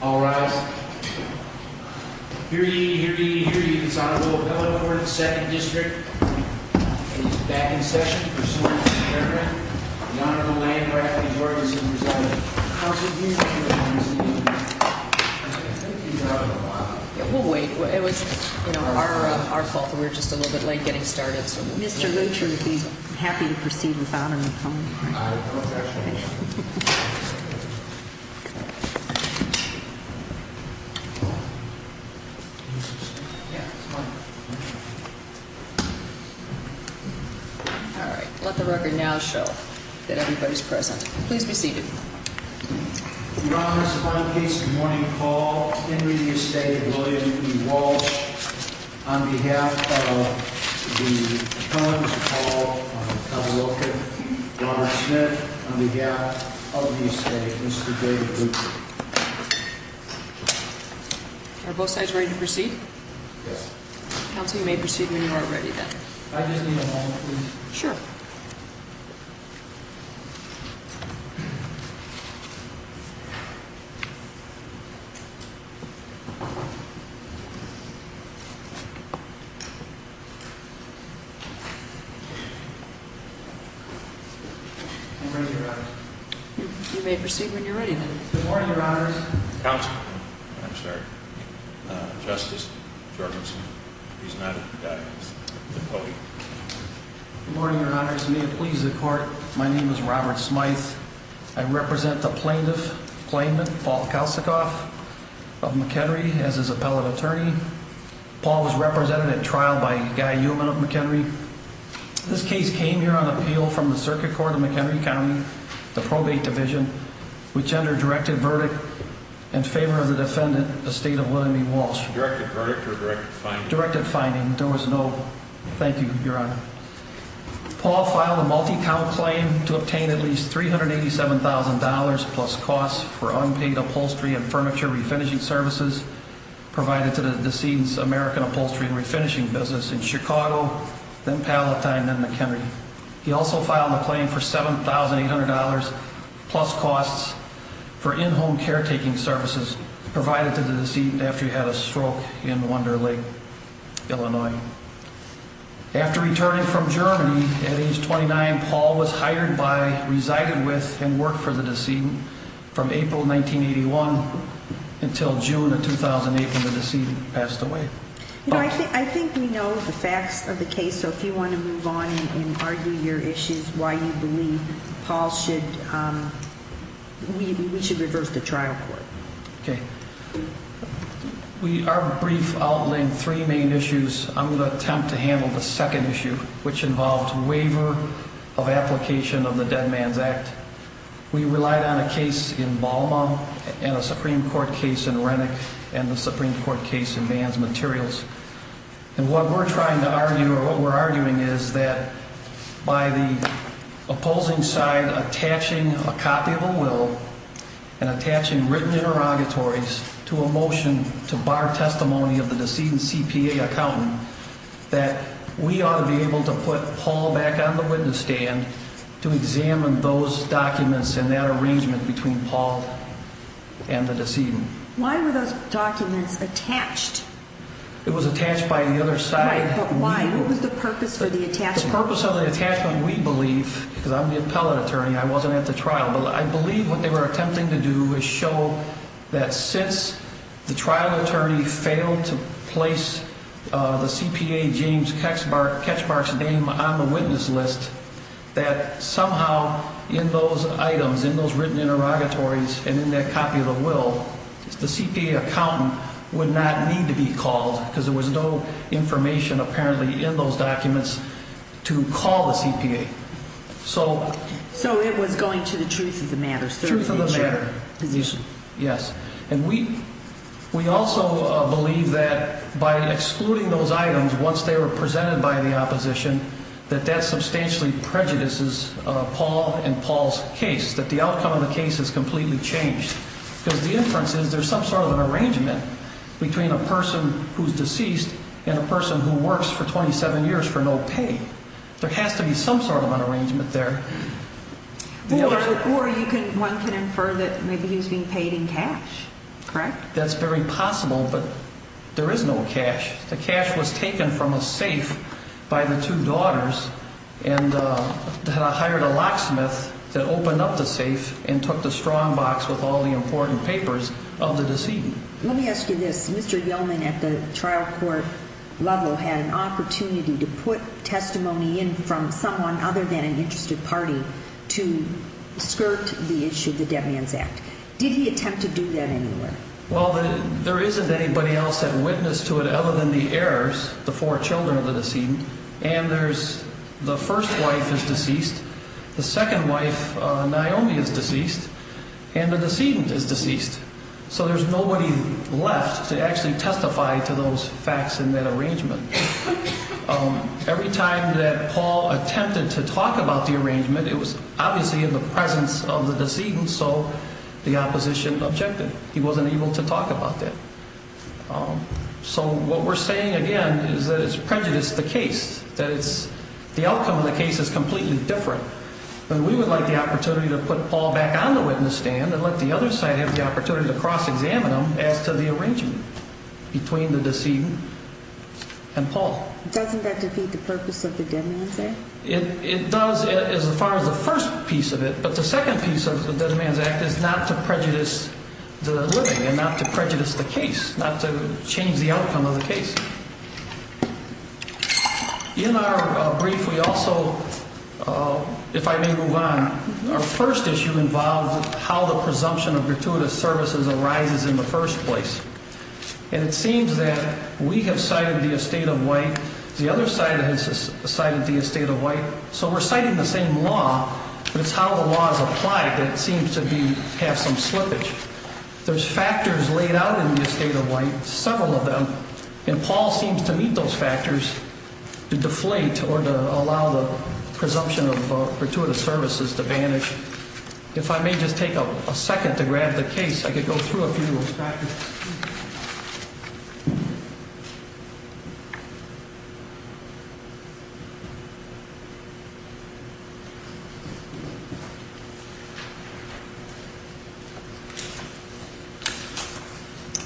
All rise. Hear ye, hear ye, hear ye, this Honorable Bill O'Connor for the Second District is back in session, pursuant to paragraph in honor of the Land Grant Majority Supervisory Committee. Thank you, Your Honor. We'll wait. It was our fault that we were just a little bit late getting started. Mr. Lutcher would be happy to proceed with Honor of the Home. All right. Let the record now show that everybody's present. Please be seated. Your Honor, this is a fine piece of morning call. On behalf of the Counselor, Mr. Paul Cavalocchi, Robert Smith, on behalf of the Estate, Mr. David Lutcher. Are both sides ready to proceed? Yes. Counsel, you may proceed when you are ready then. I just need a moment, please. Sure. I'm ready, Your Honor. You may proceed when you're ready then. Good morning, Your Honors. Counsel. I'm sorry. Justice Jorgensen. He's not a guy. He's a colleague. Good morning, Your Honors. May it please the Court, my name is Robert Smyth. I represent the plaintiff, plaintiff, Paul Kalsikoff of McHenry as his appellate attorney. Paul was represented at trial by Guy Uman of McHenry. This case came here on appeal from the Circuit Court of McHenry County, the Probate Division, which under directed verdict in favor of the defendant, the State of William E. Walsh. Directed verdict or directed finding? Directed finding. There was no, thank you, Your Honor. Paul filed a multi-count claim to obtain at least $387,000 plus costs for unpaid upholstery and furniture refinishing services provided to the decedent's American Upholstery and Refinishing business in Chicago, then Palatine, then McHenry. He also filed a claim for $7,800 plus costs for in-home caretaking services provided to the decedent after he had a stroke in Wonder Lake, Illinois. After returning from Germany at age 29, Paul was hired by, resided with, and worked for the decedent from April 1981 until June of 2008 when the decedent passed away. You know, I think we know the facts of the case, so if you want to move on and argue your issues, why you believe Paul should, we should reverse the trial court. Okay. Our brief outlined three main issues. I'm going to attempt to handle the second issue, which involved waiver of application of the Dead Man's Act. We relied on a case in Balma and a Supreme Court case in Rennick and the Supreme Court case in Man's Materials. And what we're trying to argue or what we're arguing is that by the opposing side attaching a copy of a will and attaching written interrogatories to a motion to bar testimony of the decedent's CPA accountant, that we ought to be able to put Paul back on the witness stand to examine those documents and that arrangement between Paul and the decedent. Why were those documents attached? It was attached by the other side. Right, but why? What was the purpose of the attachment? The purpose of the attachment, we believe, because I'm the appellate attorney, I wasn't at the trial, but I believe what they were attempting to do is show that since the trial attorney failed to place the CPA James Ketchbark's name on the witness list, that somehow in those items, in those written interrogatories and in that copy of the will, the CPA accountant would not need to be called because there was no information apparently in those documents to call the CPA. So it was going to the truth of the matter. Truth of the matter. Yes. And we also believe that by excluding those items once they were presented by the opposition, that that substantially prejudices Paul and Paul's case, that the outcome of the case is completely changed. Because the inference is there's some sort of an arrangement between a person who's deceased and a person who works for 27 years for no pay. There has to be some sort of an arrangement there. Or one can infer that maybe he's being paid in cash, correct? That's very possible, but there is no cash. The cash was taken from a safe by the two daughters and hired a locksmith to open up the safe and took the strong box with all the important papers of the deceased. Let me ask you this. Mr. Yellman at the trial court level had an opportunity to put testimony in from someone other than an interested party to skirt the issue of the Dead Man's Act. Did he attempt to do that anywhere? Well, there isn't anybody else that witnessed to it other than the heirs, the four children of the decedent. And there's the first wife is deceased. The second wife, Naomi, is deceased. And the decedent is deceased. So there's nobody left to actually testify to those facts in that arrangement. Every time that Paul attempted to talk about the arrangement, it was obviously in the presence of the decedent, so the opposition objected. He wasn't able to talk about that. So what we're saying, again, is that it's prejudiced the case, that the outcome of the case is completely different. And we would like the opportunity to put Paul back on the witness stand and let the other side have the opportunity to cross-examine him as to the arrangement between the decedent and Paul. Doesn't that defeat the purpose of the Dead Man's Act? It does as far as the first piece of it. But the second piece of the Dead Man's Act is not to prejudice the living and not to prejudice the case, not to change the outcome of the case. In our brief, we also, if I may move on, our first issue involves how the presumption of gratuitous services arises in the first place. And it seems that we have cited the estate of white. The other side has cited the estate of white. So we're citing the same law, but it's how the law is applied that seems to have some slippage. There's factors laid out in the estate of white, several of them, and Paul seems to meet those factors to deflate or to allow the presumption of gratuitous services to vanish. If I may just take a second to grab the case, I could go through a few of those factors.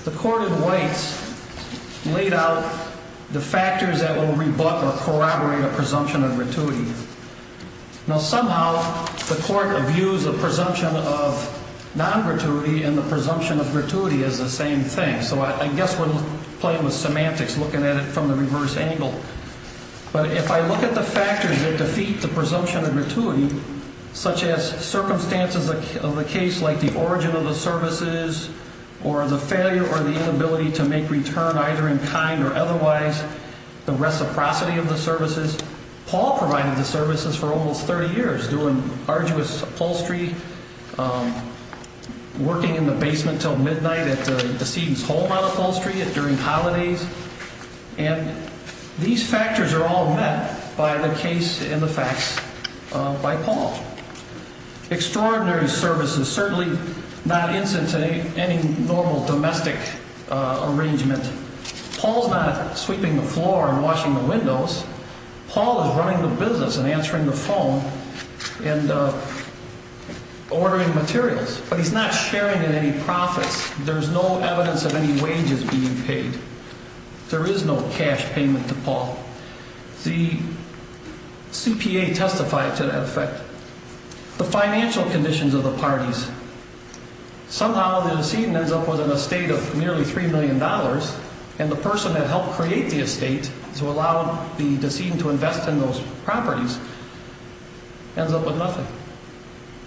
The court of whites laid out the factors that will rebut or corroborate a presumption of gratuity. Now, somehow the court views a presumption of non-gratuity and the presumption of gratuity as the same thing. So I guess we're playing with semantics, looking at it from the reverse angle. But if I look at the factors that defeat the presumption of gratuity, such as circumstances of the case like the origin of the services or the failure or the inability to make return either in kind or otherwise, the reciprocity of the services. Paul provided the services for almost 30 years doing arduous upholstery, working in the basement till midnight at the decedent's home on upholstery during holidays. And these factors are all met by the case and the facts by Paul. Extraordinary services, certainly not incident to any normal domestic arrangement. Paul's not sweeping the floor and washing the windows. Paul is running the business and answering the phone and ordering materials. But he's not sharing in any profits. There's no evidence of any wages being paid. There is no cash payment to Paul. The CPA testified to that effect. The financial conditions of the parties. Somehow the decedent ends up with an estate of nearly $3 million. And the person that helped create the estate to allow the decedent to invest in those properties ends up with nothing.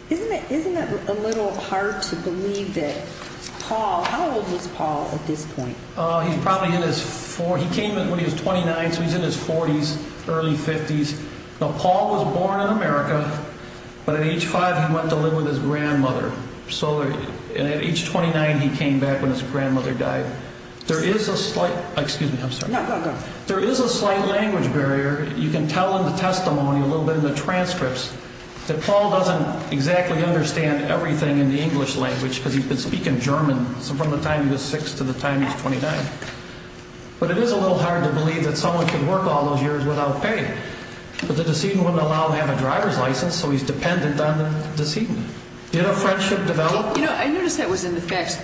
Isn't it a little hard to believe that Paul, how old was Paul at this point? He's probably in his 40s. He came in when he was 29. So he's in his 40s, early 50s. Paul was born in America. But at age five, he went to live with his grandmother. So at age 29, he came back when his grandmother died. There is a slight excuse me. I'm sorry. There is a slight language barrier. You can tell in the testimony, a little bit in the transcripts, that Paul doesn't exactly understand everything in the English language because he's been speaking German from the time he was six to the time he was 29. But it is a little hard to believe that someone can work all those years without pay. But the decedent wouldn't allow him to have a driver's license, so he's dependent on the decedent. Did a friendship develop? I noticed that was in the facts.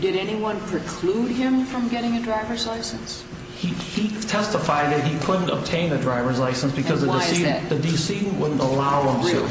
Did anyone preclude him from getting a driver's license? He testified that he couldn't obtain a driver's license because the decedent wouldn't allow him to.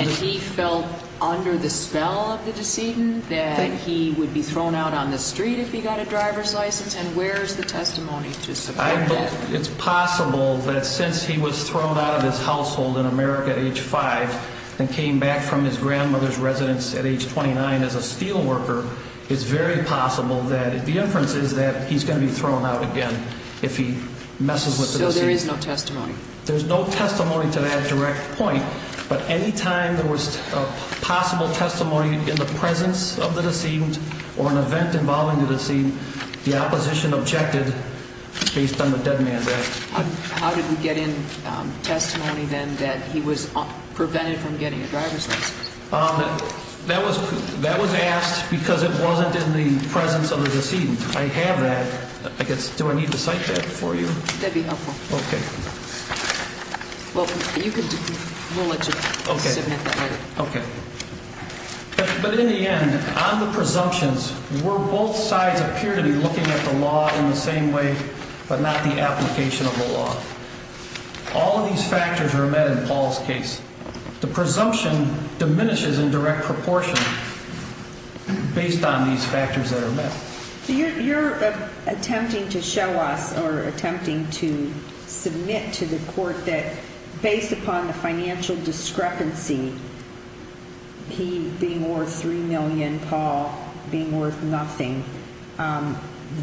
And he felt under the spell of the decedent that he would be thrown out on the street if he got a driver's license? And where is the testimony to support that? It's possible that since he was thrown out of his household in America at age five and came back from his grandmother's residence at age 29 as a steelworker, it's very possible that the inference is that he's going to be thrown out again if he messes with the decedent. So there is no testimony? There's no testimony to that direct point. But any time there was possible testimony in the presence of the decedent or an event involving the decedent, the opposition objected based on the dead man's act. How did we get in testimony then that he was prevented from getting a driver's license? That was asked because it wasn't in the presence of the decedent. I have that. Do I need to cite that for you? That would be helpful. Okay. Well, we'll let you submit that later. Okay. But in the end, on the presumptions, were both sides appear to be looking at the law in the same way but not the application of the law? All of these factors were met in Paul's case. The presumption diminishes in direct proportion based on these factors that are met. So you're attempting to show us or attempting to submit to the court that based upon the financial discrepancy, he being worth $3 million, Paul being worth nothing,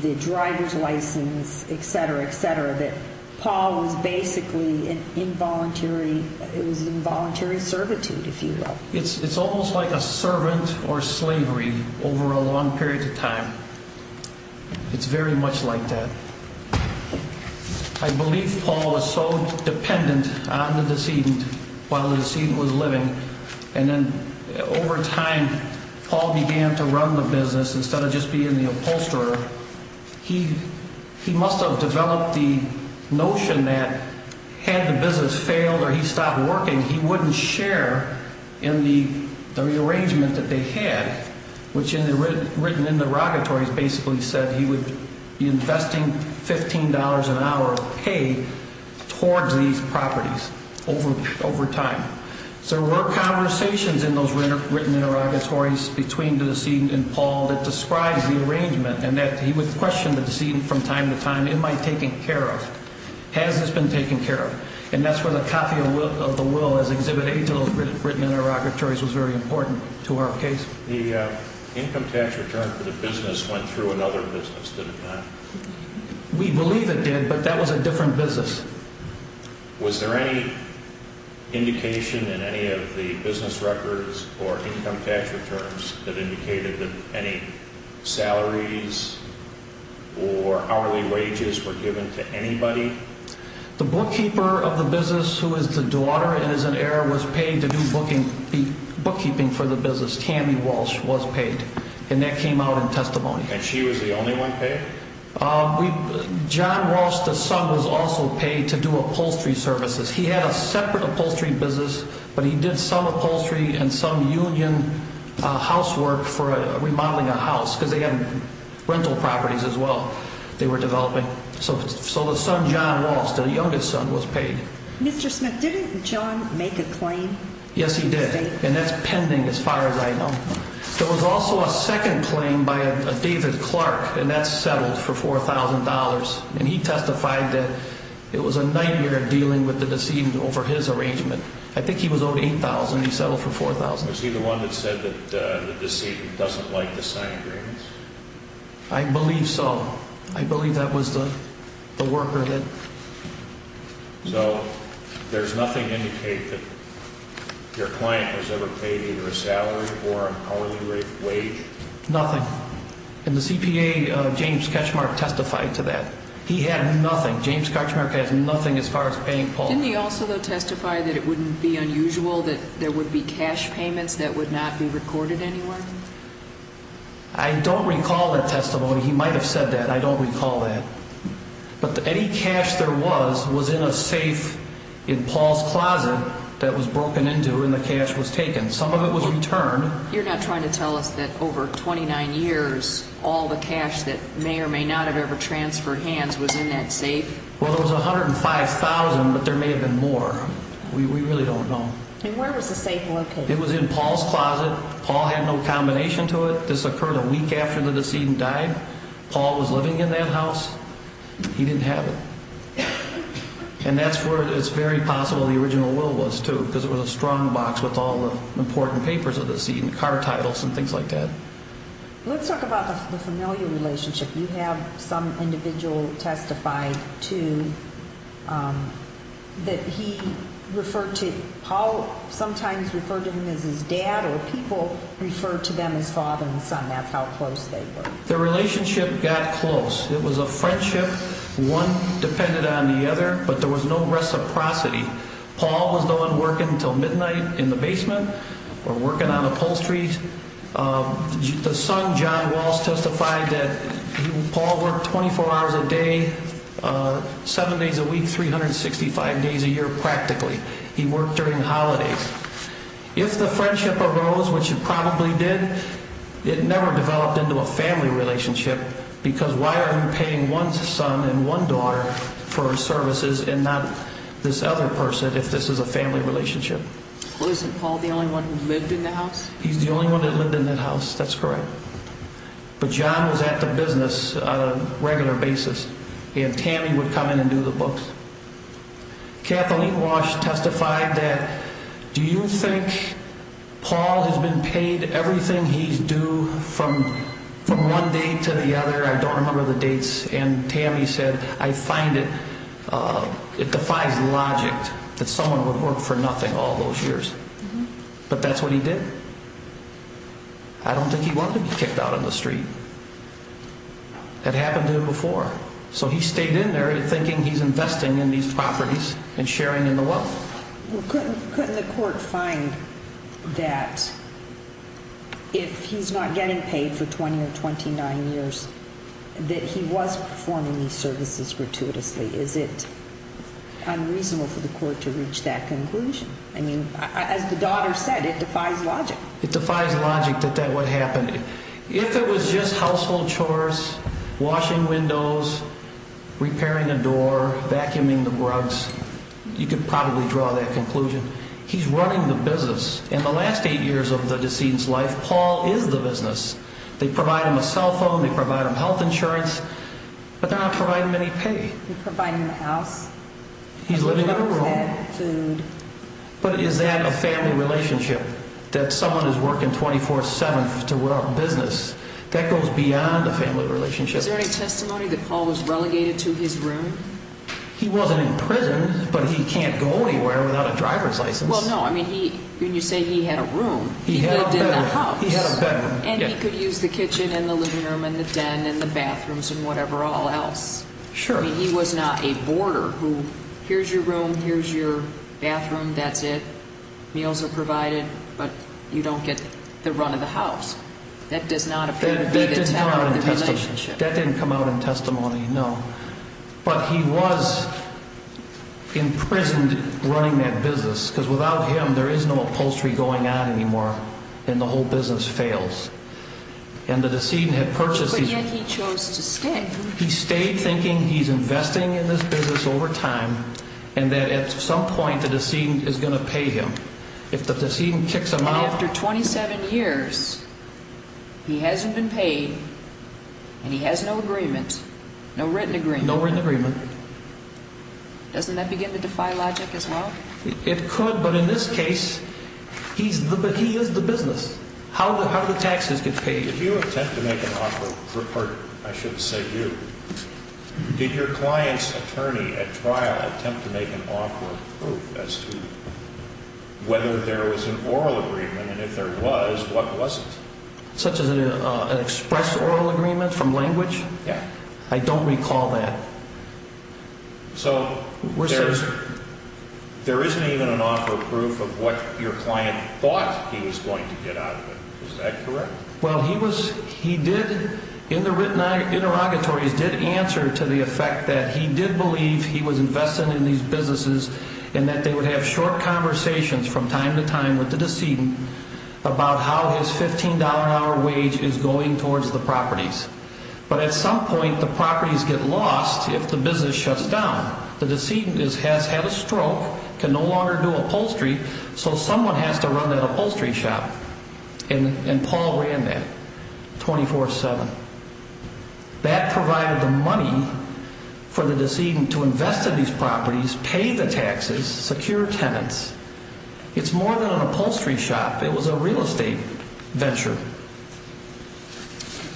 the driver's license, et cetera, et cetera, Paul was basically involuntary. It was involuntary servitude, if you will. It's almost like a servant or slavery over a long period of time. It's very much like that. I believe Paul was so dependent on the decedent while the decedent was living, And then over time, Paul began to run the business. Instead of just being the upholsterer, he must have developed the notion that had the business failed or he stopped working, he wouldn't share in the rearrangement that they had, which written in the derogatories basically said he would be investing $15 an hour of pay towards these properties over time. So there were conversations in those written derogatories between the decedent and Paul that described the arrangement and that he would question the decedent from time to time, am I taken care of? Has this been taken care of? And that's where the copy of the will as Exhibit A to those written derogatories was very important to our case. The income tax return for the business went through another business, did it not? We believe it did, but that was a different business. Was there any indication in any of the business records or income tax returns that indicated that any salaries or hourly wages were given to anybody? The bookkeeper of the business, who is the daughter and is an heir, was paid to do bookkeeping for the business. Tammy Walsh was paid, and that came out in testimony. And she was the only one paid? John Walsh, the son, was also paid to do upholstery services. He had a separate upholstery business, but he did some upholstery and some union housework for remodeling a house because they had rental properties as well they were developing. So the son, John Walsh, the youngest son, was paid. Mr. Smith, didn't John make a claim? Yes, he did, and that's pending as far as I know. There was also a second claim by a David Clark, and that's settled for $4,000. And he testified that it was a nightmare dealing with the decedent over his arrangement. I think he was owed $8,000, and he settled for $4,000. Was he the one that said that the decedent doesn't like to sign agreements? I believe so. I believe that was the worker that... So there's nothing to indicate that your client was ever paid either a salary or an hourly wage? Nothing. And the CPA, James Katchmark, testified to that. He had nothing. James Katchmark has nothing as far as paying Paul. Didn't he also, though, testify that it wouldn't be unusual that there would be cash payments that would not be recorded anywhere? I don't recall that testimony. He might have said that. I don't recall that. But any cash there was was in a safe in Paul's closet that was broken into and the cash was taken. Some of it was returned. You're not trying to tell us that over 29 years all the cash that may or may not have ever transferred hands was in that safe? Well, there was $105,000, but there may have been more. We really don't know. And where was the safe located? It was in Paul's closet. Paul had no combination to it. This occurred a week after the decedent died. Paul was living in that house. He didn't have it. And that's where it's very possible the original will was, too, because it was a strong box with all the important papers of the seat and car titles and things like that. Let's talk about the familial relationship. You have some individual testify to that he referred to Paul, sometimes referred to him as his dad, or people referred to them as father and son. That's how close they were. Their relationship got close. It was a friendship. One depended on the other, but there was no reciprocity. Paul was the one working until midnight in the basement or working on upholstery. The son, John Walls, testified that Paul worked 24 hours a day, seven days a week, 365 days a year practically. He worked during holidays. If the friendship arose, which it probably did, it never developed into a family relationship because why are you paying one son and one daughter for services and not this other person if this is a family relationship? Well, isn't Paul the only one who lived in the house? He's the only one that lived in that house. That's correct. But John was at the business on a regular basis. He and Tammy would come in and do the books. Kathleen Walsh testified that, do you think Paul has been paid everything he's due from one day to the other? I don't remember the dates. And Tammy said, I find it defies logic that someone would work for nothing all those years. But that's what he did. I don't think he wanted to be kicked out on the street. That happened to him before. So he stayed in there thinking he's investing in these properties and sharing in the wealth. Couldn't the court find that if he's not getting paid for 20 or 29 years that he was performing these services gratuitously? Is it unreasonable for the court to reach that conclusion? I mean, as the daughter said, it defies logic. It defies logic that that would happen. If it was just household chores, washing windows, repairing a door, vacuuming the rugs, you could probably draw that conclusion. He's running the business. In the last eight years of the decedent's life, Paul is the business. They provide him a cell phone. They provide him health insurance. But they're not providing him any pay. He's providing the house. He's living in a room. Food. But is that a family relationship, that someone is working 24-7 to run a business? That goes beyond a family relationship. Is there any testimony that Paul was relegated to his room? He wasn't in prison, but he can't go anywhere without a driver's license. Well, no. I mean, when you say he had a room, he lived in the house. He had a bedroom. And he could use the kitchen and the living room and the den and the bathrooms and whatever all else. Sure. I mean, he was not a boarder who, here's your room, here's your bathroom, that's it. Meals are provided. But you don't get the run of the house. That does not appear to be the town or the relationship. That didn't come out in testimony, no. But he was imprisoned running that business, because without him there is no upholstery going on anymore. And the whole business fails. And the decedent had purchased these apartments. But yet he chose to stay. He stayed thinking he's investing in this business over time and that at some point the decedent is going to pay him. If the decedent kicks him out. And after 27 years, he hasn't been paid and he has no agreement, no written agreement. No written agreement. Doesn't that begin to defy logic as well? It could, but in this case, he is the business. How do the taxes get paid? If you attempt to make an offer, or I should say you, did your client's attorney at trial attempt to make an offer of proof as to whether there was an oral agreement? And if there was, what was it? Such as an express oral agreement from language? Yeah. I don't recall that. So there isn't even an offer of proof of what your client thought he was going to get out of it. Is that correct? Well, he did, in the written interrogatories, did answer to the effect that he did believe he was investing in these businesses. And that they would have short conversations from time to time with the decedent about how his $15 an hour wage is going towards the properties. But at some point, the properties get lost if the business shuts down. The decedent has had a stroke, can no longer do upholstery, so someone has to run that upholstery shop. And Paul ran that 24-7. That provided the money for the decedent to invest in these properties, pay the taxes, secure tenants. It's more than an upholstery shop. It was a real estate venture.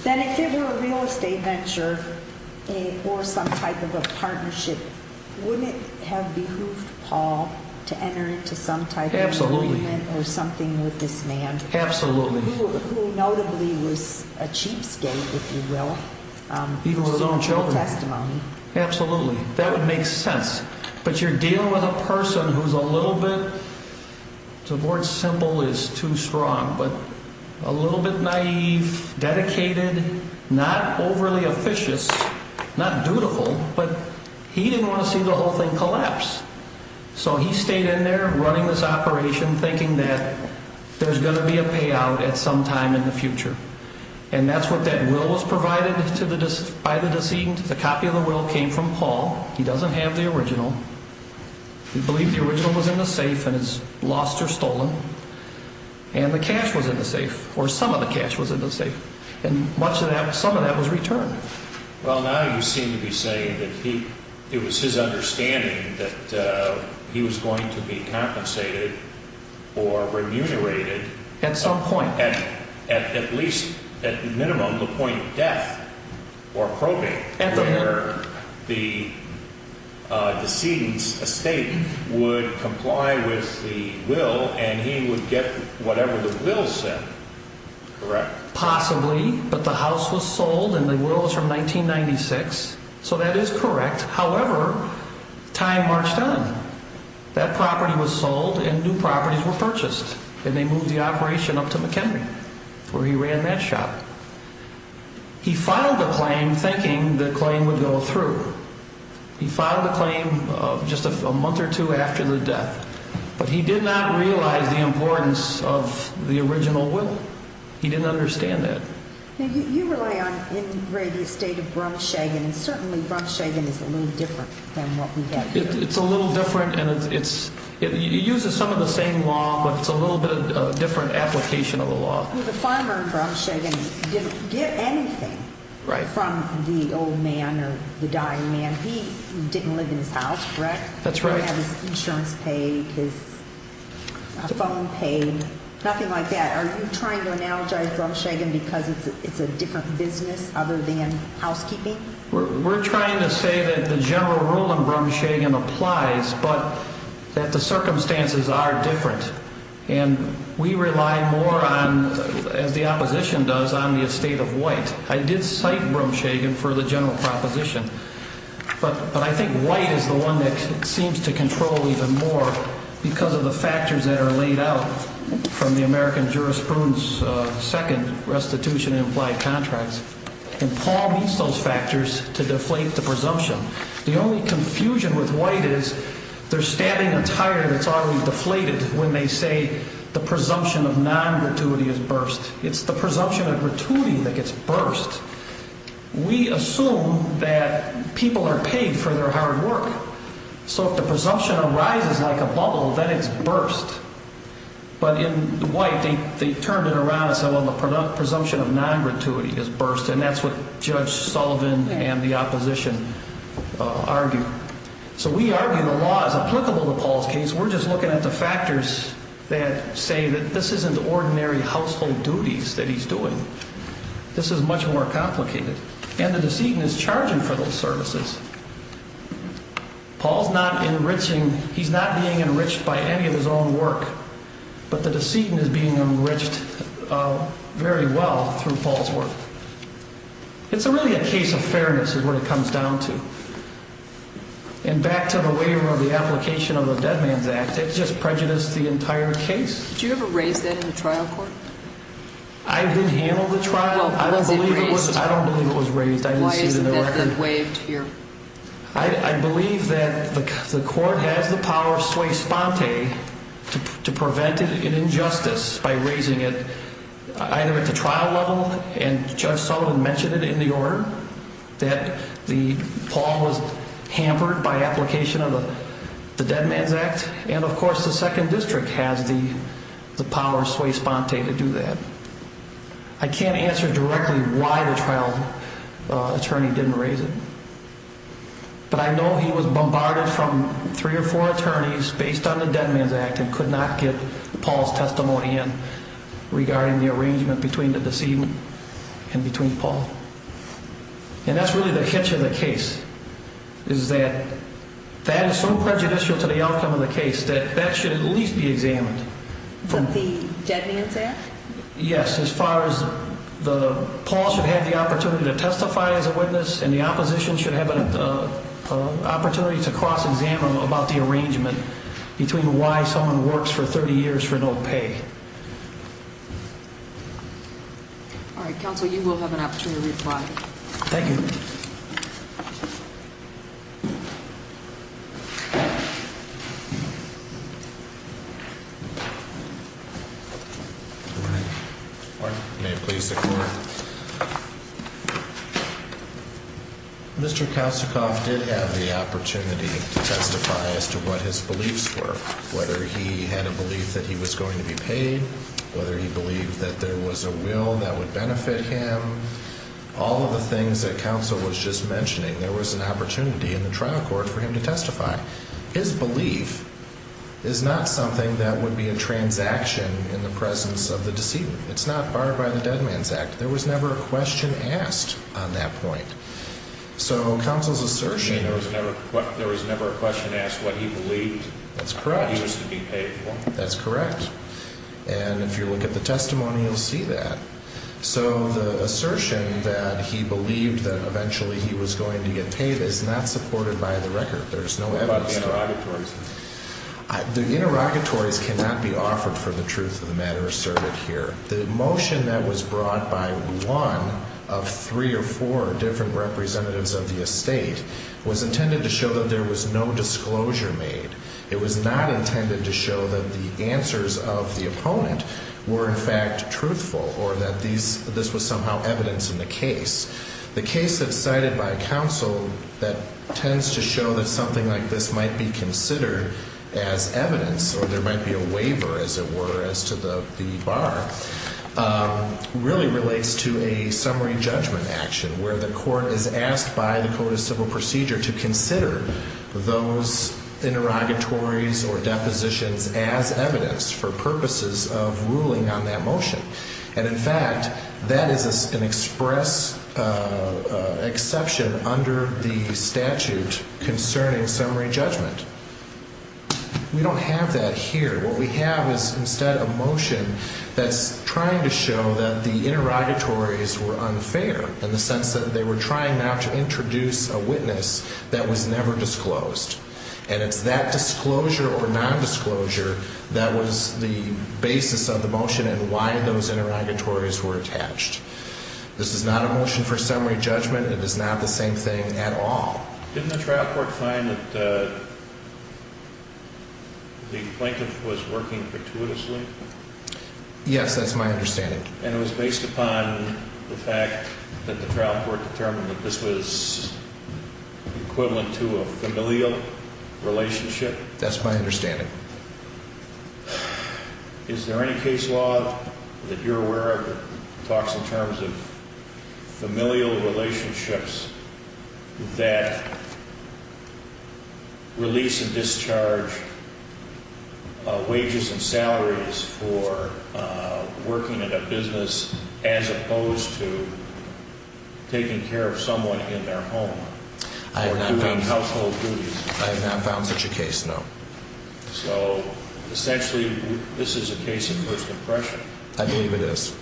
Then if it were a real estate venture or some type of a partnership, wouldn't it have behooved Paul to enter into some type of agreement or something with this man? Absolutely. Who notably was a cheapskate, if you will. Even with his own children. Absolutely. That would make sense. But you're dealing with a person who's a little bit, to avoid simple is too strong, but a little bit naive, dedicated, not overly officious, not dutiful. But he didn't want to see the whole thing collapse. So he stayed in there running this operation, thinking that there's going to be a payout at some time in the future. And that's what that will was provided by the decedent. The copy of the will came from Paul. He doesn't have the original. He believed the original was in the safe and it's lost or stolen. And the cash was in the safe, or some of the cash was in the safe. And much of that, some of that was returned. Well, now you seem to be saying that it was his understanding that he was going to be compensated or remunerated. At some point. At least, at minimum, the point of death or probate. At the minute. The decedent's estate would comply with the will and he would get whatever the will said, correct? Possibly. But the house was sold and the will was from 1996. So that is correct. However, time marched on. That property was sold and new properties were purchased. And they moved the operation up to McHenry, where he ran that shop. He filed the claim thinking the claim would go through. He filed the claim just a month or two after the death. But he did not realize the importance of the original will. He didn't understand that. Now, you rely on the ingrated estate of Brumshagen, and certainly Brumshagen is a little different than what we have here. It's a little different and it uses some of the same law, but it's a little bit of a different application of the law. The farmer in Brumshagen didn't get anything from the old man or the dying man. He didn't live in his house, correct? That's right. He didn't have his insurance paid, his phone paid, nothing like that. Are you trying to analogize Brumshagen because it's a different business other than housekeeping? We're trying to say that the general rule in Brumshagen applies, but that the circumstances are different. And we rely more on, as the opposition does, on the estate of White. I did cite Brumshagen for the general proposition, but I think White is the one that seems to control even more because of the factors that are laid out from the American jurisprudence second restitution and implied contracts. And Paul meets those factors to deflate the presumption. The only confusion with White is they're stabbing a tire that's already deflated when they say the presumption of non-gratuity is burst. It's the presumption of gratuity that gets burst. We assume that people are paid for their hard work. So if the presumption arises like a bubble, then it's burst. But in White, they turned it around and said, well, the presumption of non-gratuity is burst. And that's what Judge Sullivan and the opposition argue. So we argue the law is applicable to Paul's case. We're just looking at the factors that say that this isn't ordinary household duties that he's doing. This is much more complicated. And the decedent is charging for those services. Paul's not enriching. He's not being enriched by any of his own work. But the decedent is being enriched very well through Paul's work. It's really a case of fairness is what it comes down to. And back to the waiver of the application of the Dead Man's Act, it just prejudiced the entire case. Did you ever raise that in the trial court? I didn't handle the trial. I don't believe it was raised. Why isn't it waived here? I believe that the court has the power of sui sponte to prevent an injustice by raising it either at the trial level, and Judge Sullivan mentioned it in the order, that Paul was hampered by application of the Dead Man's Act. And, of course, the Second District has the power of sui sponte to do that. I can't answer directly why the trial attorney didn't raise it, but I know he was bombarded from three or four attorneys based on the Dead Man's Act and could not get Paul's testimony in regarding the arrangement between the decedent and between Paul. And that's really the hitch of the case is that that is so prejudicial to the outcome of the case that that should at least be examined. The Dead Man's Act? Yes, as far as Paul should have the opportunity to testify as a witness and the opposition should have an opportunity to cross-examine about the arrangement between why someone works for 30 years for no pay. All right, counsel, you will have an opportunity to reply. Thank you. Good morning. Good morning. May it please the Court. Mr. Kasichoff did have the opportunity to testify as to what his beliefs were, whether he had a belief that he was going to be paid, whether he believed that there was a will that would benefit him, all of the things that counsel was just mentioning, there was an opportunity in the trial court for him to testify. His belief is not something that would be a transaction in the presence of the decedent. It's not barred by the Dead Man's Act. There was never a question asked on that point. So counsel's assertion... There was never a question asked what he believed he was to be paid for. That's correct. And if you look at the testimony, you'll see that. So the assertion that he believed that eventually he was going to get paid is not supported by the record. There's no evidence to that. What about the interrogatories? The interrogatories cannot be offered for the truth of the matter asserted here. The motion that was brought by one of three or four different representatives of the estate was intended to show that there was no disclosure made. It was not intended to show that the answers of the opponent were, in fact, truthful or that this was somehow evidence in the case. The case that's cited by counsel that tends to show that something like this might be considered as evidence or there might be a waiver, as it were, as to the bar, really relates to a summary judgment action where the court is asked by the Code of Civil Procedure to consider those interrogatories or depositions as evidence for purposes of ruling on that motion. And in fact, that is an express exception under the statute concerning summary judgment. We don't have that here. What we have is instead a motion that's trying to show that the interrogatories were unfair in the sense that they were trying now to introduce a witness that was never disclosed. And it's that disclosure or nondisclosure that was the basis of the motion and why those interrogatories were attached. This is not a motion for summary judgment. It is not the same thing at all. Didn't the trial court find that the plaintiff was working gratuitously? Yes, that's my understanding. And it was based upon the fact that the trial court determined that this was equivalent to a familial relationship? That's my understanding. Is there any case law that you're aware of that talks in terms of familial relationships that release and discharge wages and salaries for working in a business as opposed to taking care of someone in their home or doing household duties? I have not found such a case, no. So essentially this is a case of first impression? I believe it is.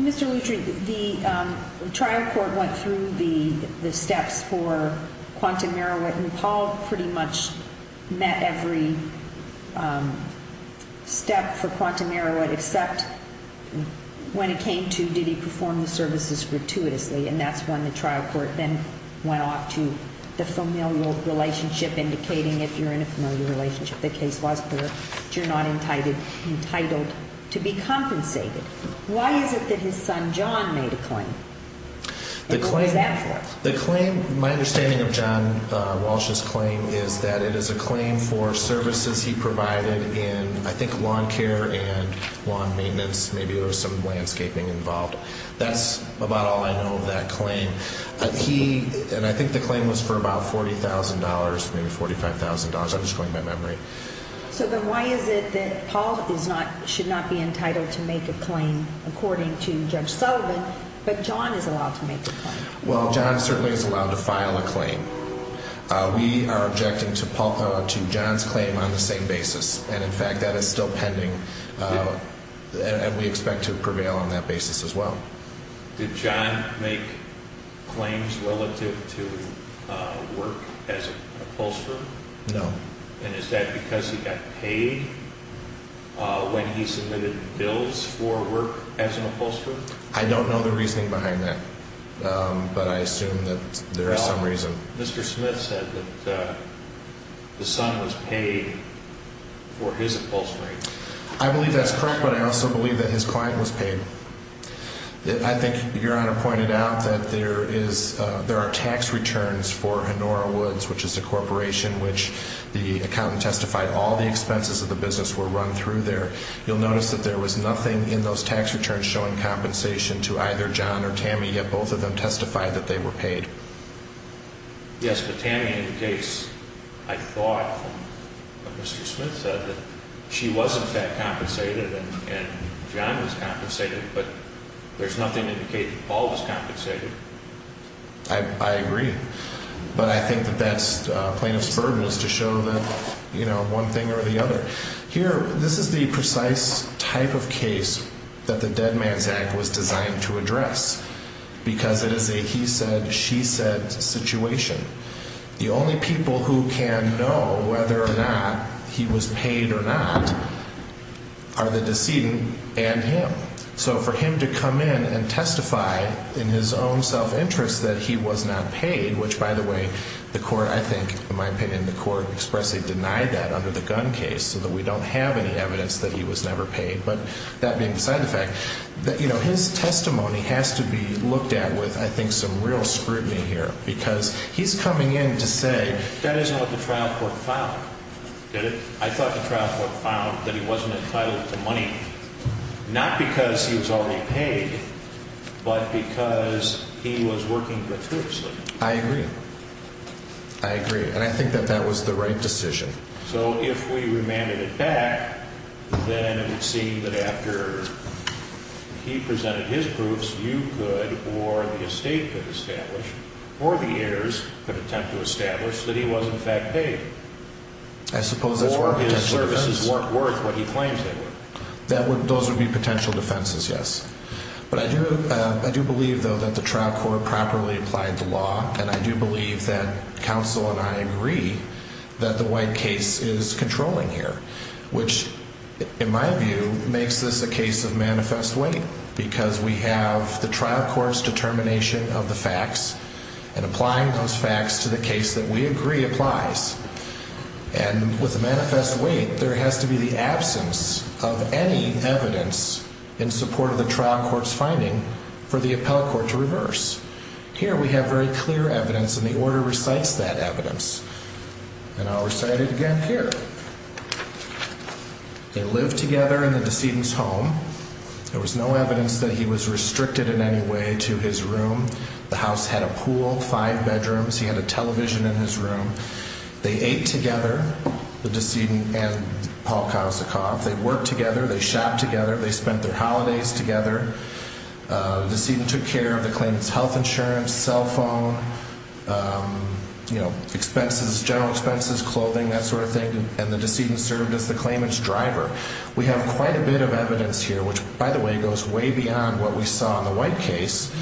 Mr. Lutry, the trial court went through the steps for Quantum Merriwet and Paul pretty much met every step for Quantum Merriwet except when it came to did he perform the services gratuitously. And that's when the trial court then went off to the familial relationship indicating if you're in a familial relationship the case was clear that you're not entitled to be compensated. Why is it that his son John made a claim? And what was that for? My understanding of John Walsh's claim is that it is a claim for services he provided in I think lawn care and lawn maintenance, maybe there was some landscaping involved. That's about all I know of that claim. And I think the claim was for about $40,000, maybe $45,000. I'm just going by memory. So then why is it that Paul should not be entitled to make a claim according to Judge Sullivan but John is allowed to make a claim? Well, John certainly is allowed to file a claim. We are objecting to John's claim on the same basis. And, in fact, that is still pending, and we expect to prevail on that basis as well. Did John make claims relative to work as an upholsterer? No. And is that because he got paid when he submitted bills for work as an upholsterer? I don't know the reasoning behind that, but I assume that there is some reason. Mr. Smith said that the son was paid for his upholstery. I believe that's correct, but I also believe that his client was paid. I think Your Honor pointed out that there are tax returns for Honora Woods, which is a corporation which the accountant testified all the expenses of the business were run through there. You'll notice that there was nothing in those tax returns showing compensation to either John or Tammy, yet both of them testified that they were paid. Yes, but Tammy indicates, I thought, that Mr. Smith said that she was, in fact, compensated and John was compensated, but there's nothing to indicate that Paul was compensated. I agree, but I think the best plaintiff's burden is to show them one thing or the other. Here, this is the precise type of case that the Dead Man's Act was designed to address because it is a he said, she said situation. The only people who can know whether or not he was paid or not are the decedent and him. So for him to come in and testify in his own self-interest that he was not paid, which, by the way, the court, I think, in my opinion, the court expressly denied that under the gun case so that we don't have any evidence that he was never paid. But that being said, the fact that, you know, his testimony has to be looked at with, I think, some real scrutiny here because he's coming in to say that isn't what the trial court found. Get it? I thought the trial court found that he wasn't entitled to money, not because he was already paid, but because he was working gratuitously. I agree. I agree, and I think that that was the right decision. So if we remanded it back, then it would seem that after he presented his proofs, you could or the estate could establish or the heirs could attempt to establish that he was, in fact, paid. Or his services weren't worth what he claims they were. Those would be potential defenses, yes. But I do believe, though, that the trial court properly applied the law, and I do believe that counsel and I agree that the White case is controlling here, which, in my view, makes this a case of manifest weight and applying those facts to the case that we agree applies. And with a manifest weight, there has to be the absence of any evidence in support of the trial court's finding for the appellate court to reverse. Here we have very clear evidence, and the order recites that evidence. And I'll recite it again here. They lived together in the decedent's home. There was no evidence that he was restricted in any way to his room. The house had a pool, five bedrooms. He had a television in his room. They ate together, the decedent and Paul Kazikoff. They worked together. They shopped together. They spent their holidays together. The decedent took care of the claimant's health insurance, cell phone, expenses, general expenses, clothing, that sort of thing, and the decedent served as the claimant's driver. We have quite a bit of evidence here, which, by the way, goes way beyond what we saw in the White case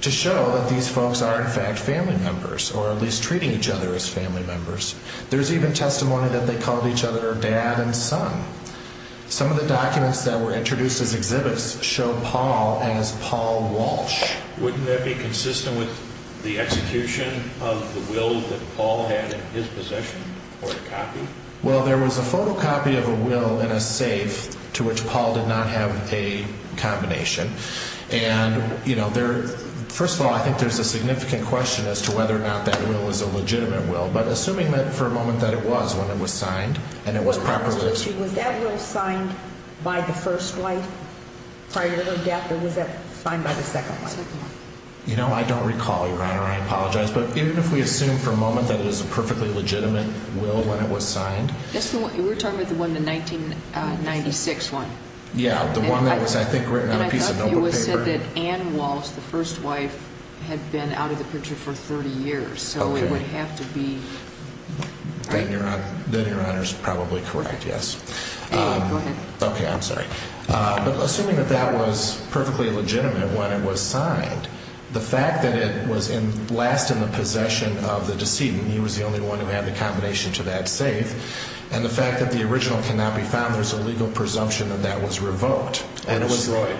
to show that these folks are, in fact, family members or at least treating each other as family members. There's even testimony that they called each other dad and son. Some of the documents that were introduced as exhibits show Paul as Paul Walsh. Wouldn't that be consistent with the execution of the will that Paul had in his possession or a copy? Well, there was a photocopy of a will in a safe to which Paul did not have a combination. And, you know, first of all, I think there's a significant question as to whether or not that will is a legitimate will. But assuming that for a moment that it was when it was signed and it was proper wills. Was that will signed by the first wife prior to her death or was that signed by the second wife? I apologize, but even if we assume for a moment that it is a perfectly legitimate will when it was signed. We're talking about the one in the 1996 one. Yeah, the one that was, I think, written on a piece of paper. It was said that Ann Walsh, the first wife, had been out of the picture for 30 years. So it would have to be. Then your honor is probably correct. Yes. Go ahead. OK, I'm sorry. But assuming that that was perfectly legitimate when it was signed. The fact that it was in last in the possession of the decedent. He was the only one who had the combination to that safe. And the fact that the original cannot be found. There's a legal presumption that that was revoked. Or destroyed.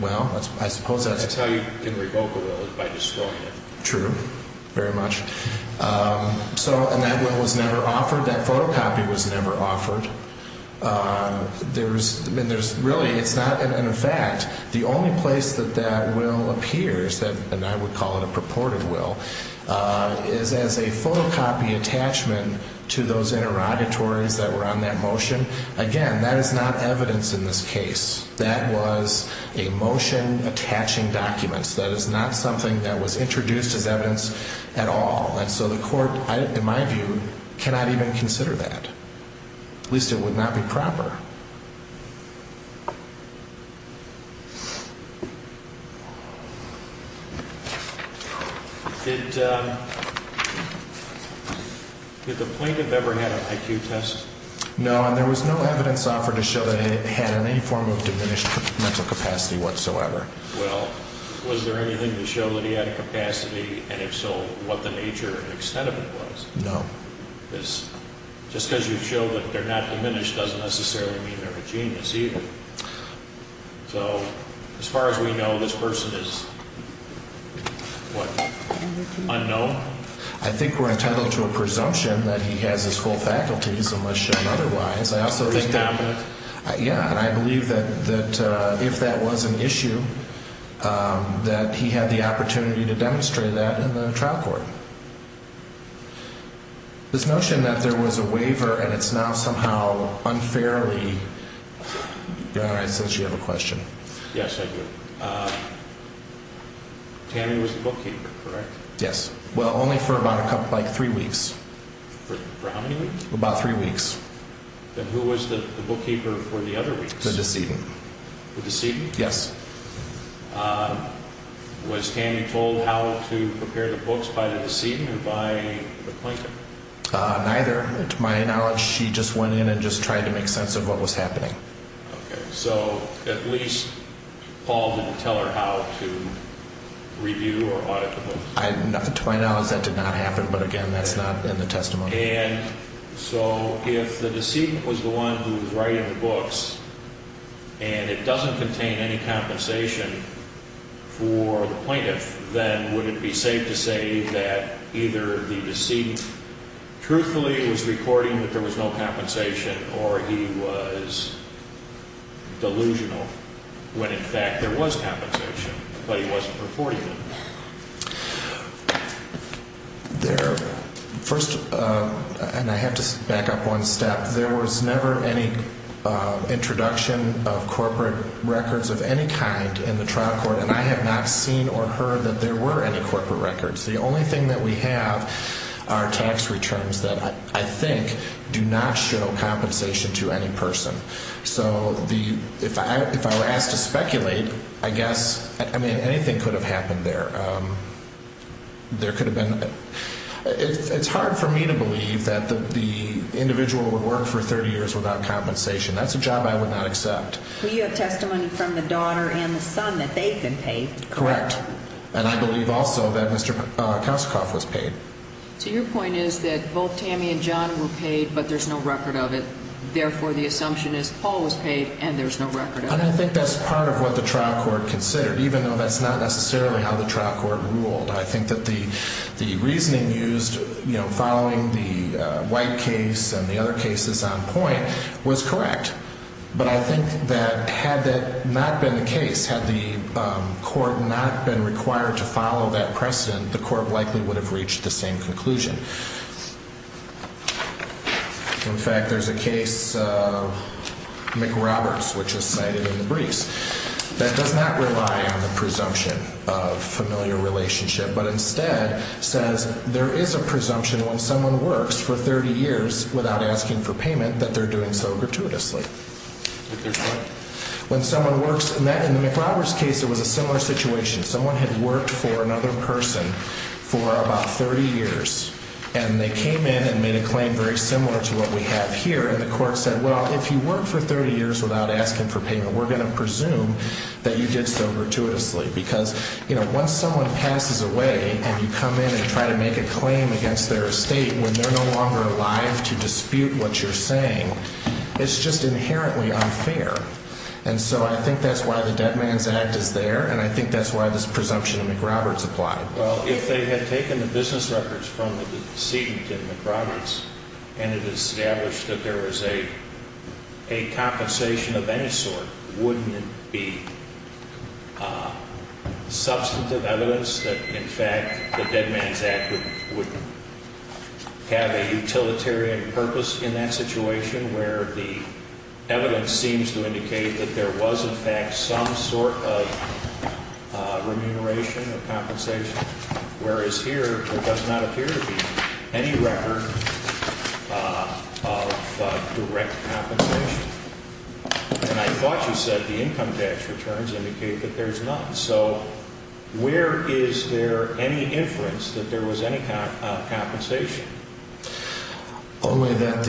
Well, I suppose that's how you can revoke a will is by destroying it. True. Very much so. And that will was never offered. That photocopy was never offered. There's really, it's not an effect. The only place that that will appears, and I would call it a purported will, is as a photocopy attachment to those interrogatories that were on that motion. Again, that is not evidence in this case. That was a motion attaching documents. That is not something that was introduced as evidence at all. And so the court, in my view, cannot even consider that. At least it would not be proper. Did the plaintiff ever had an IQ test? No, and there was no evidence offered to show that he had any form of diminished mental capacity whatsoever. Well, was there anything to show that he had a capacity, and if so, what the nature and extent of it was? No. Just because you show that they're not diminished doesn't necessarily mean they're a genius either. So, as far as we know, this person is, what, unknown? I think we're entitled to a presumption that he has his full faculties, unless shown otherwise. Think dominant? Yeah, and I believe that if that was an issue, that he had the opportunity to demonstrate that in the trial court. This notion that there was a waiver, and it's now somehow unfairly... All right, since you have a question. Yes, I do. Tammy was the bookkeeper, correct? Yes. Well, only for about three weeks. For how many weeks? About three weeks. Then who was the bookkeeper for the other weeks? The decedent. The decedent? Yes. Was Tammy told how to prepare the books by the decedent or by the plaintiff? Neither. To my knowledge, she just went in and just tried to make sense of what was happening. Okay, so at least Paul didn't tell her how to review or audit the books. To my knowledge, that did not happen, but again, that's not in the testimony. And so if the decedent was the one who was writing the books and it doesn't contain any compensation for the plaintiff, then would it be safe to say that either the decedent truthfully was recording that there was no compensation or he was delusional when, in fact, there was compensation, but he wasn't reporting it? First, and I have to back up one step, there was never any introduction of corporate records of any kind in the trial court, and I have not seen or heard that there were any corporate records. The only thing that we have are tax returns that I think do not show compensation to any person. So if I were asked to speculate, I guess, I mean, anything could have happened there. It's hard for me to believe that the individual would work for 30 years without compensation. That's a job I would not accept. Well, you have testimony from the daughter and the son that they've been paid. Correct, and I believe also that Mr. Kosikoff was paid. So your point is that both Tammy and John were paid, but there's no record of it, and therefore the assumption is Paul was paid and there's no record of it. And I think that's part of what the trial court considered, even though that's not necessarily how the trial court ruled. I think that the reasoning used following the White case and the other cases on point was correct, but I think that had that not been the case, had the court not been required to follow that precedent, the court likely would have reached the same conclusion. In fact, there's a case, McRoberts, which was cited in the briefs, that does not rely on the presumption of familiar relationship, but instead says there is a presumption when someone works for 30 years without asking for payment that they're doing so gratuitously. When someone works in that, in the McRoberts case, it was a similar situation. Someone had worked for another person for about 30 years, and they came in and made a claim very similar to what we have here, and the court said, well, if you work for 30 years without asking for payment, we're going to presume that you did so gratuitously. Because, you know, once someone passes away and you come in and try to make a claim against their estate when they're no longer alive to dispute what you're saying, it's just inherently unfair. And so I think that's why the Dead Man's Act is there, and I think that's why this presumption of McRoberts applied. Well, if they had taken the business records from the decedent in McRoberts and had established that there was a compensation of any sort, wouldn't it be substantive evidence that, in fact, the Dead Man's Act would have a utilitarian purpose in that situation where the evidence seems to indicate that there was, in fact, some sort of remuneration or compensation, whereas here there does not appear to be any record of direct compensation? And I thought you said the income tax returns indicate that there's none. So where is there any inference that there was any kind of compensation? Only that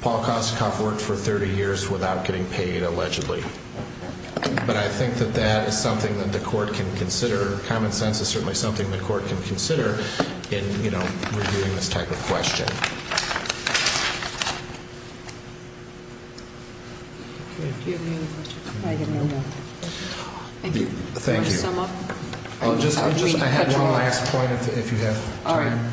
Paul Kosnikoff worked for 30 years without getting paid, allegedly. But I think that that is something that the court can consider. Common sense is certainly something the court can consider in, you know, reviewing this type of question. Thank you. Want to sum up? I'll just add one last point if you have time.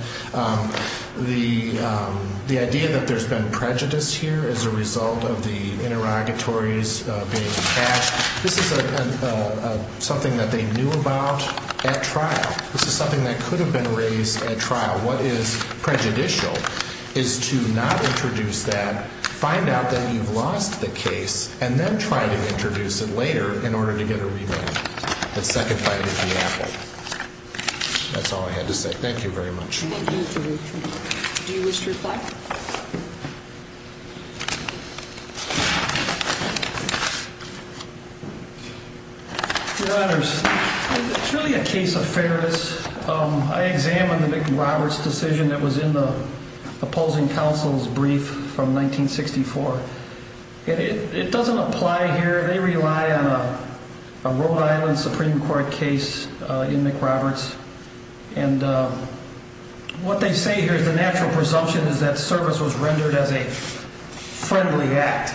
The idea that there's been prejudice here as a result of the interrogatories being attached, this is something that they knew about at trial. This is something that could have been raised at trial. What is prejudicial is to not introduce that, find out that you've lost the case, and then try to introduce it later in order to get a remand. That's second fighting the apple. That's all I had to say. Thank you very much. Thank you. Do you wish to reply? Your Honors, it's really a case of fairness. I examined the McRoberts decision that was in the opposing counsel's brief from 1964. It doesn't apply here. They rely on a Rhode Island Supreme Court case in McRoberts. And what they say here is the natural presumption is that service was rendered as a friendly act.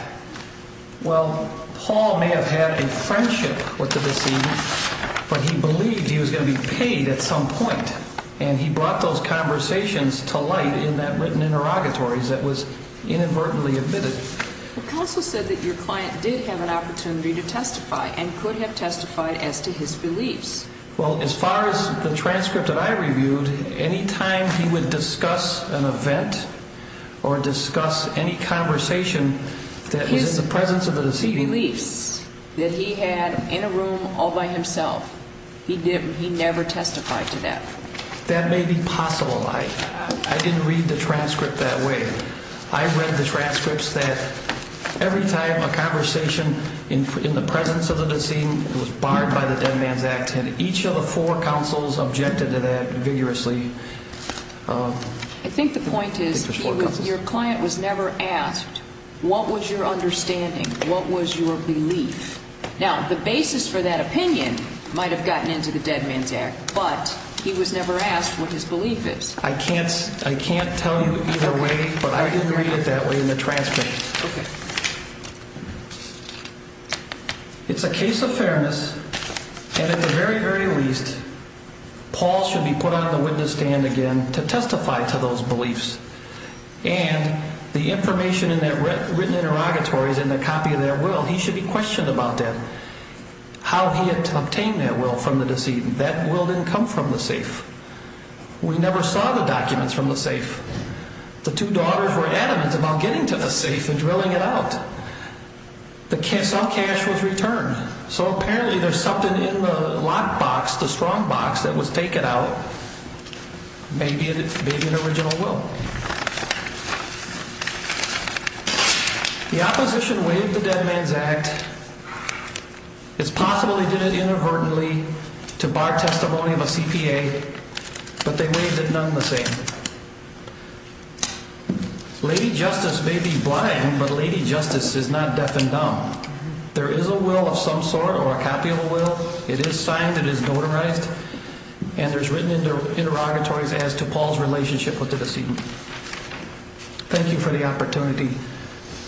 Well, Paul may have had a friendship with the deceased, but he believed he was going to be paid at some point. And he brought those conversations to light in that written interrogatory that was inadvertently admitted. The counsel said that your client did have an opportunity to testify and could have testified as to his beliefs. Well, as far as the transcript that I reviewed, any time he would discuss an event or discuss any conversation that was in the presence of the deceased. His beliefs that he had in a room all by himself, he never testified to that. That may be possible. I didn't read the transcript that way. I read the transcripts that every time a conversation in the presence of the deceased was barred by the Dead Man's Act, and each of the four counsels objected to that vigorously. I think the point is your client was never asked what was your understanding, what was your belief. Now, the basis for that opinion might have gotten into the Dead Man's Act, but he was never asked what his belief is. I can't tell you either way, but I didn't read it that way in the transcript. Okay. It's a case of fairness, and at the very, very least, Paul should be put on the witness stand again to testify to those beliefs. And the information in that written interrogatory is in a copy of that will. He should be questioned about that, how he had obtained that will from the deceased. That will didn't come from the safe. We never saw the documents from the safe. The two daughters were adamant about getting to the safe and drilling it out. All cash was returned. So apparently there's something in the locked box, the strong box, that was taken out. Maybe an original will. I don't know. The opposition waived the Dead Man's Act. It's possible they did it inadvertently to bar testimony of a CPA, but they waived it none the same. Lady Justice may be blind, but Lady Justice is not deaf and dumb. There is a will of some sort or a copy of a will. It is signed. It is notarized. And there's written interrogatories as to Paul's relationship with the deceased. Thank you for the opportunity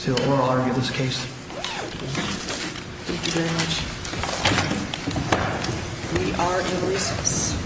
to oral argue this case. Thank you very much. We are in recess.